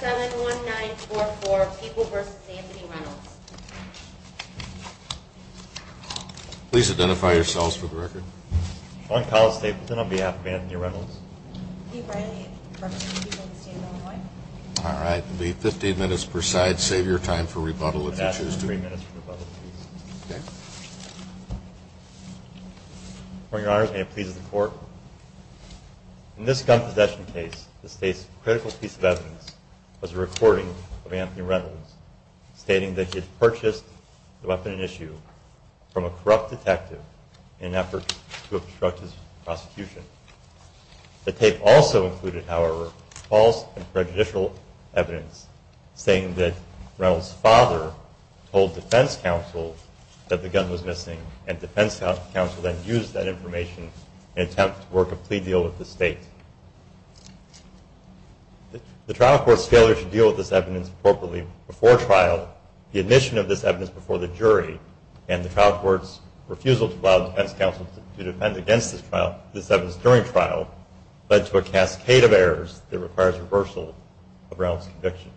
15 minutes per side. Save your time for rebuttal if you choose to. In this gun possession case, the state's critical piece of evidence was a recording of Anthony Reynolds, stating that he had purchased the weapon in issue from a corrupt detective in an effort to obstruct his prosecution. The tape also included, however, false and prejudicial evidence, stating that Reynolds' father told defense counsel that the gun was missing, and defense counsel then used that information in an attempt to work a plea deal with the state. The trial court's failure to deal with this evidence appropriately before trial, the admission of this evidence before the jury, and the trial court's refusal to allow defense counsel to defend against this evidence during trial, led to a cascade of errors that requires reversal of Reynolds' conviction.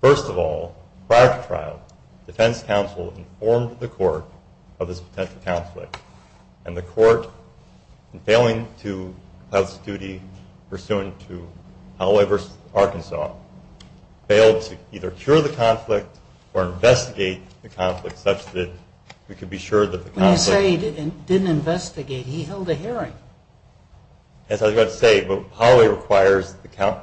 First of all, prior to trial, defense counsel informed the court of this potential conflict, and the court, in failing to fulfill its duty pursuant to Holloway v. Arkansas, failed to either cure the conflict or investigate the conflict such that we could be sure that the conflict- When you say he didn't investigate, he held a hearing. That's what I was about to say, but Holloway requires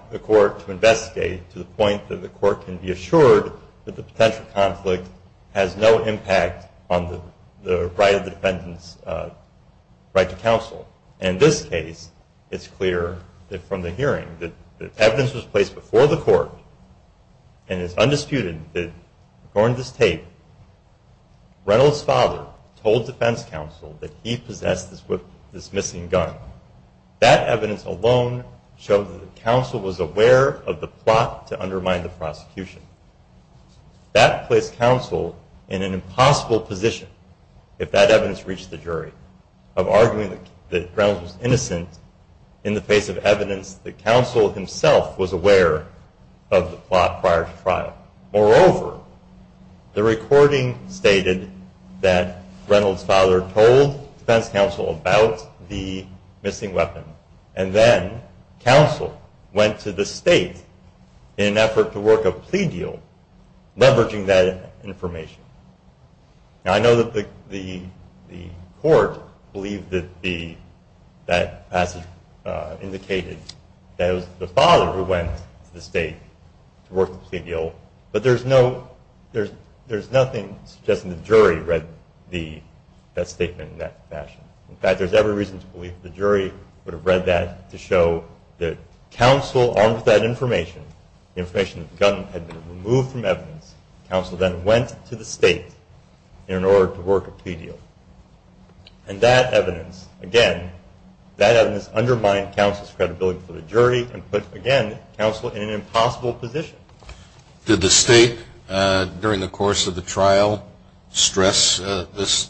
the court to investigate to the point that the court can be assured that the potential conflict has no impact on the right of the defendant's right to counsel. In this case, it's clear from the hearing that the evidence was placed before the court, and it's undisputed that, according to this tape, Reynolds' father told defense counsel that he possessed this missing gun. That evidence alone showed that the counsel was aware of the plot to undermine the prosecution. That placed counsel in an impossible position, if that evidence reached the jury, of arguing that Reynolds was innocent in the face of evidence that counsel himself was aware of the plot prior to trial. Moreover, the recording stated that Reynolds' father told defense counsel about the missing weapon, and then counsel went to the state in an effort to work a plea deal leveraging that information. Now, I know that the court believed that that passage indicated that it was the father who went to the state to work the plea deal, but there's nothing suggesting the jury read that statement in that fashion. In fact, there's every reason to believe the jury would have read that to show that counsel, armed with that information, the information that the gun had been removed from evidence, counsel then went to the state in order to work a plea deal. And that evidence, again, that evidence undermined counsel's credibility before the jury and put, again, counsel in an impossible position. Did the state, during the course of the trial, stress this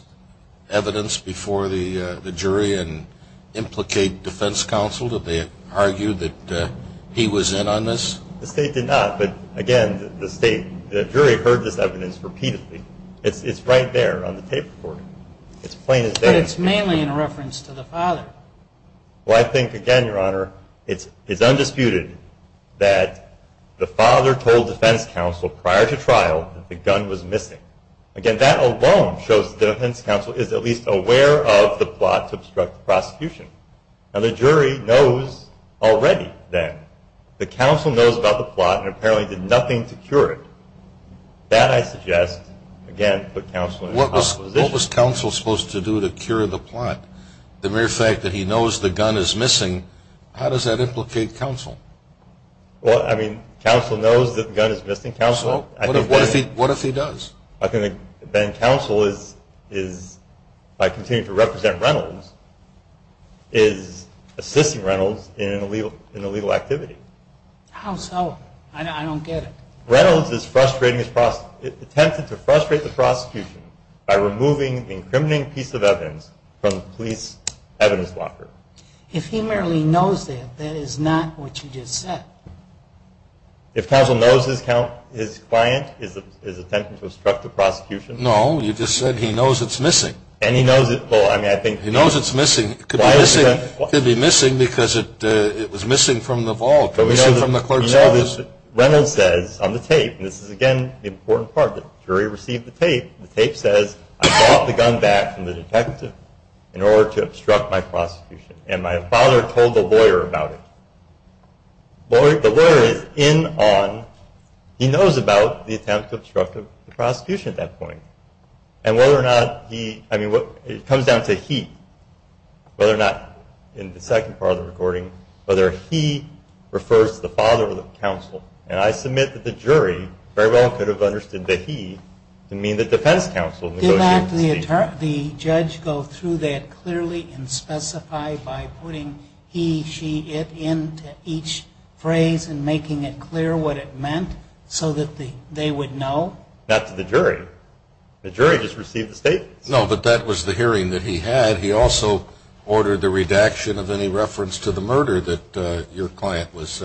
evidence before the jury and implicate defense counsel? Did they argue that he was in on this? The state did not. But, again, the jury heard this evidence repeatedly. It's right there on the tape recording. It's plain as day. But it's mainly in reference to the father. Well, I think, again, Your Honor, it's undisputed that the father told defense counsel prior to trial that the gun was missing. Again, that alone shows that defense counsel is at least aware of the plot to obstruct the prosecution. Now, the jury knows already then. The counsel knows about the plot and apparently did nothing to cure it. That, I suggest, again, put counsel in an impossible position. What was counsel supposed to do to cure the plot? The mere fact that he knows the gun is missing, how does that implicate counsel? Well, I mean, counsel knows that the gun is missing. Counsel, what if he does? Then counsel is, by continuing to represent Reynolds, is assisting Reynolds in an illegal activity. How so? I don't get it. Reynolds attempted to frustrate the prosecution by removing the incriminating piece of evidence from the police evidence locker. If he merely knows that, that is not what you just said. If counsel knows his client is attempting to obstruct the prosecution. No, you just said he knows it's missing. And he knows it. Well, I mean, I think. He knows it's missing. It could be missing because it was missing from the vault, missing from the clerk's office. But we know that Reynolds says on the tape, and this is, again, the important part, the jury received the tape, the tape says, I brought the gun back from the detective in order to obstruct my prosecution. And my father told the lawyer about it. The lawyer is in on, he knows about the attempt to obstruct the prosecution at that point. And whether or not he, I mean, it comes down to he, whether or not, in the second part of the recording, whether he refers to the father of the counsel. And I submit that the jury very well could have understood that he didn't mean the defense counsel negotiated the scene. Did the judge go through that clearly and specify by putting he, she, it into each phrase and making it clear what it meant so that they would know? Not to the jury. The jury just received the statements. No, but that was the hearing that he had. He also ordered the redaction of any reference to the murder that your client was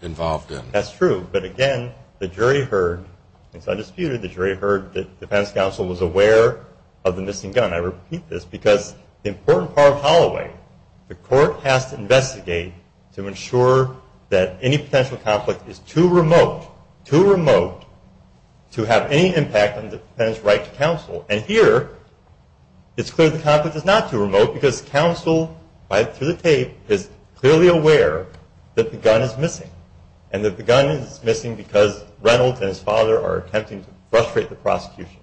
involved in. That's true. But again, the jury heard, it's undisputed, the jury heard that defense counsel was aware of the missing gun. I repeat this because the important part of Holloway, the court has to investigate to ensure that any potential conflict is too remote, too remote to have any impact on the defendant's right to counsel. And here, it's clear the conflict is not too remote because counsel, right through the tape, is clearly aware that the gun is missing and that the gun is missing because Reynolds and his father are attempting to frustrate the prosecution.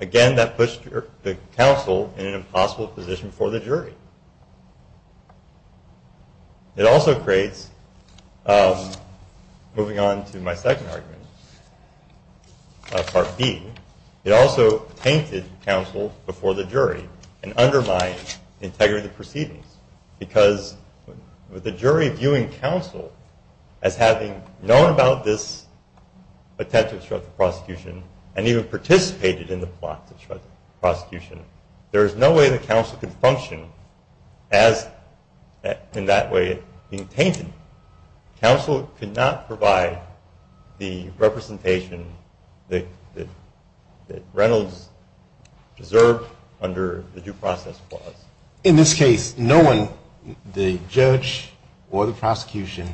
Again, that puts the counsel in an impossible position for the jury. It also creates, moving on to my second argument, Part B, it also tainted counsel before the jury and undermined integrity of the proceedings because with the jury viewing counsel as having known about this attempt to frustrate the prosecution and even participated in the plot to frustrate the prosecution, there is no way that counsel could function as in that way being tainted. Counsel could not provide the representation that Reynolds deserved under the due process clause. In this case, no one, the judge or the prosecution,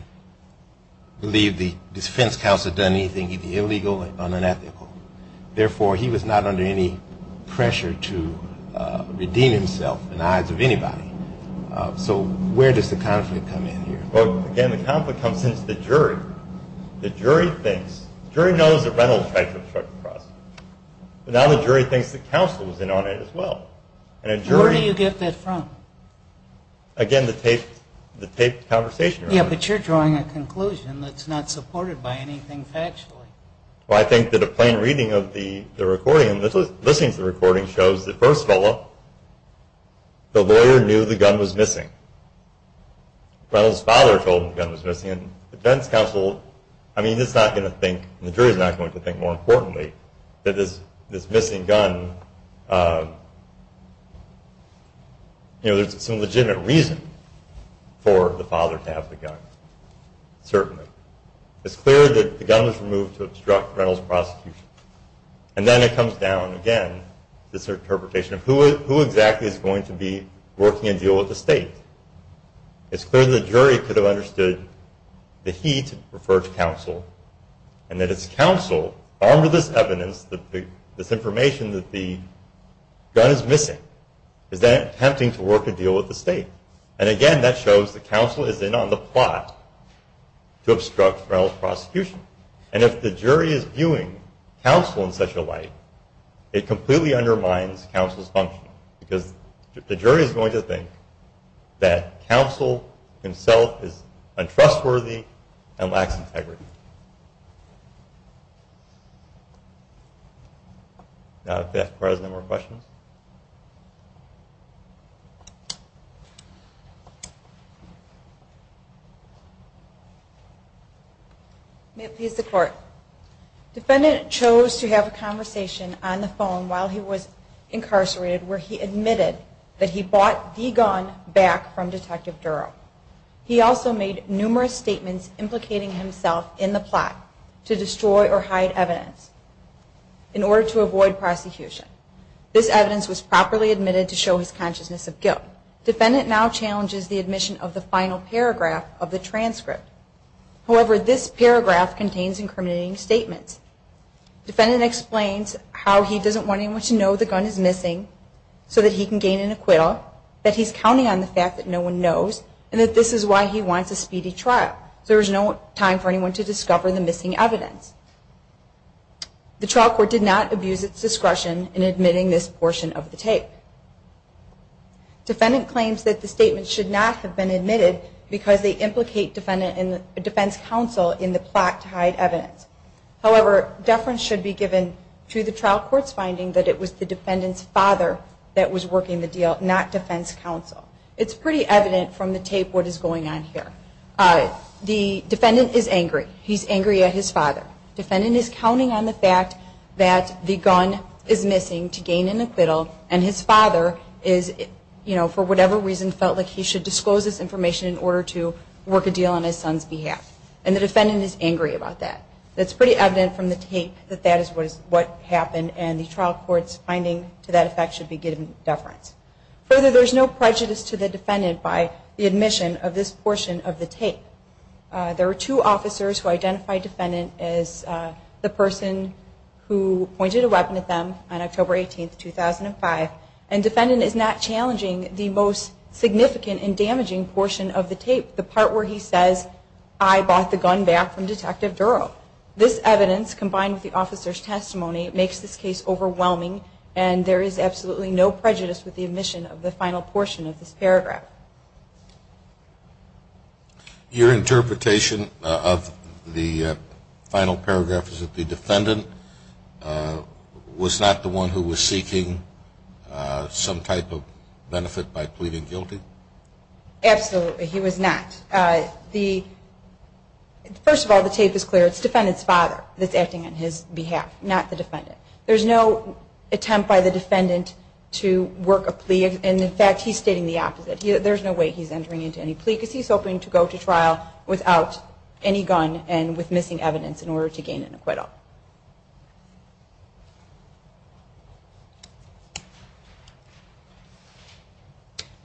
believed the defense counsel had done anything either illegal or unethical. Therefore, he was not under any pressure to redeem himself in the eyes of anybody. So where does the conflict come in here? Well, again, the conflict comes since the jury. The jury thinks, the jury knows that Reynolds tried to frustrate the prosecution, but now the jury thinks that counsel was in on it as well. Where do you get that from? Again, the taped conversation. Yeah, but you're drawing a conclusion that's not supported by anything factually. Well, I think that a plain reading of the recording, listening to the recording shows that first of all, the lawyer knew the gun was missing. Reynolds' father told him the gun was missing. The defense counsel, I mean, is not going to think, and the jury is not going to think, more importantly, that this missing gun, you know, there's some legitimate reason for the father to have the gun, certainly. It's clear that the gun was removed to obstruct Reynolds' prosecution. And then it comes down, again, to this interpretation of who exactly is going to be working and dealing with the state. It's clear that the jury could have understood that he referred to counsel and that it's counsel, armed with this evidence, this information that the gun is missing, is then attempting to work a deal with the state. And again, that shows that counsel is in on the plot to obstruct Reynolds' prosecution. And if the jury is viewing counsel in such a light, it completely undermines counsel's function, because the jury is going to think that counsel himself is untrustworthy and lacks integrity. Now, if the President has more questions. Defendant chose to have a conversation on the phone while he was incarcerated, where he admitted that he bought the gun back from Detective Durow. He also made numerous statements implicating himself in the plot to destroy or hide evidence in order to avoid prosecution. This evidence was properly admitted to show his consciousness of guilt. Defendant now challenges the admission of the final paragraph of the transcript. However, this paragraph contains incriminating statements. Defendant explains how he doesn't want anyone to know the gun is missing, so that he can gain an acquittal, that he's counting on the fact that no one knows, and that this is why he wants a speedy trial. There is no time for anyone to discover the missing evidence. The trial court did not abuse its discretion in admitting this portion of the tape. Defendant claims that the statement should not have been admitted because they implicate defense counsel in the plot to hide evidence. However, deference should be given to the trial court's finding that it was the defendant's father that was working the deal, not defense counsel. It's pretty evident from the tape what is going on here. The defendant is angry. He's angry at his father. Defendant is counting on the fact that the gun is missing to gain an acquittal and his father, for whatever reason, felt like he should disclose this information in order to work a deal on his son's behalf. And the defendant is angry about that. It's pretty evident from the tape that that is what happened and the trial court's finding to that effect should be given deference. Further, there is no prejudice to the defendant by the admission of this portion of the tape. There are two officers who identify defendant as the person who pointed a weapon at them on October 18, 2005, and defendant is not challenging the most significant and damaging portion of the tape, the part where he says, I bought the gun back from Detective Durrell. This evidence combined with the officer's testimony makes this case overwhelming and there is absolutely no prejudice with the admission of the final portion of this paragraph. Your interpretation of the final paragraph is that the defendant was not the one who was seeking some type of benefit by pleading guilty? Absolutely, he was not. First of all, the tape is clear. It's defendant's father that's acting on his behalf, not the defendant. There's no attempt by the defendant to work a plea and, in fact, he's stating the opposite. There's no way he's entering into any plea because he's hoping to go to trial without any gun and with missing evidence in order to gain an acquittal.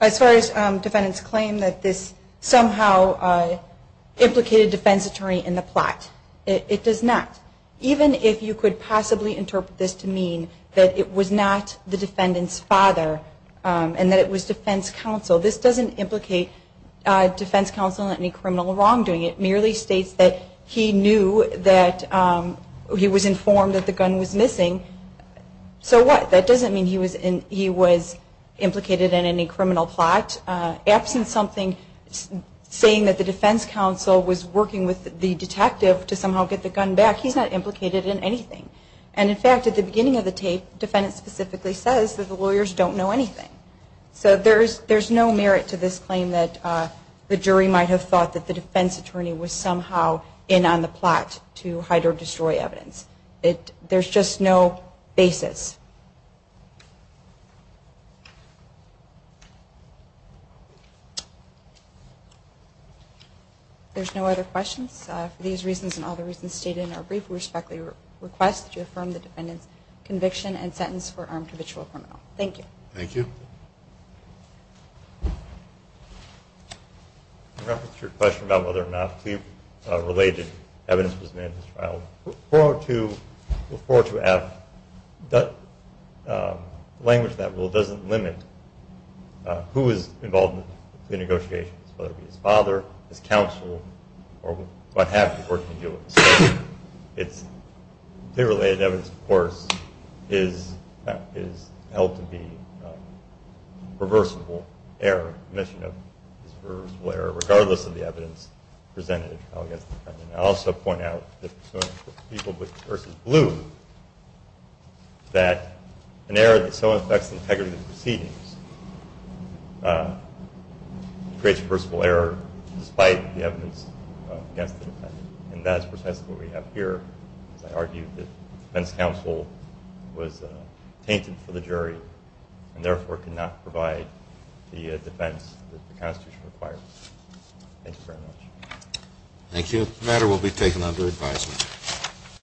As far as defendants claim that this somehow implicated defense attorney in the plot, it does not. Even if you could possibly interpret this to mean that it was not the defendant's father and that it was defense counsel, this doesn't implicate defense counsel in any criminal wrongdoing. It merely states that he knew that he was informed that the gun was missing. So what? That doesn't mean he was implicated in any criminal plot. Absent something saying that the defense counsel was working with the detective to somehow get the gun back, he's not implicated in anything. And, in fact, at the beginning of the tape, the defendant specifically says that the lawyers don't know anything. So there's no merit to this claim that the jury might have thought that the defense attorney was somehow in on the plot to hide or destroy evidence. There's just no basis. There's no other questions. For these reasons and all the reasons stated in our brief, we respectfully request that you affirm the defendant's conviction and sentence for armed habitual criminal. Thank you. Thank you. In reference to your question about whether or not plea-related evidence was made in his trial, we look forward to asking that the language of that rule doesn't limit who was involved in the plea negotiations, whether it be his father, his counsel, or what half the court can do at the same time. Plea-related evidence, of course, is held to be a reversible error, a mission of this reversible error, regardless of the evidence presented against the defendant. I'll also point out that people with verses blue, that an error that so affects the integrity of the proceedings creates a reversible error, despite the evidence against the defendant. And that is precisely what we have here. As I argued, the defense counsel was tainted for the jury and therefore could not provide the defense that the Constitution requires. Thank you very much. Thank you. The matter will be taken under advisement.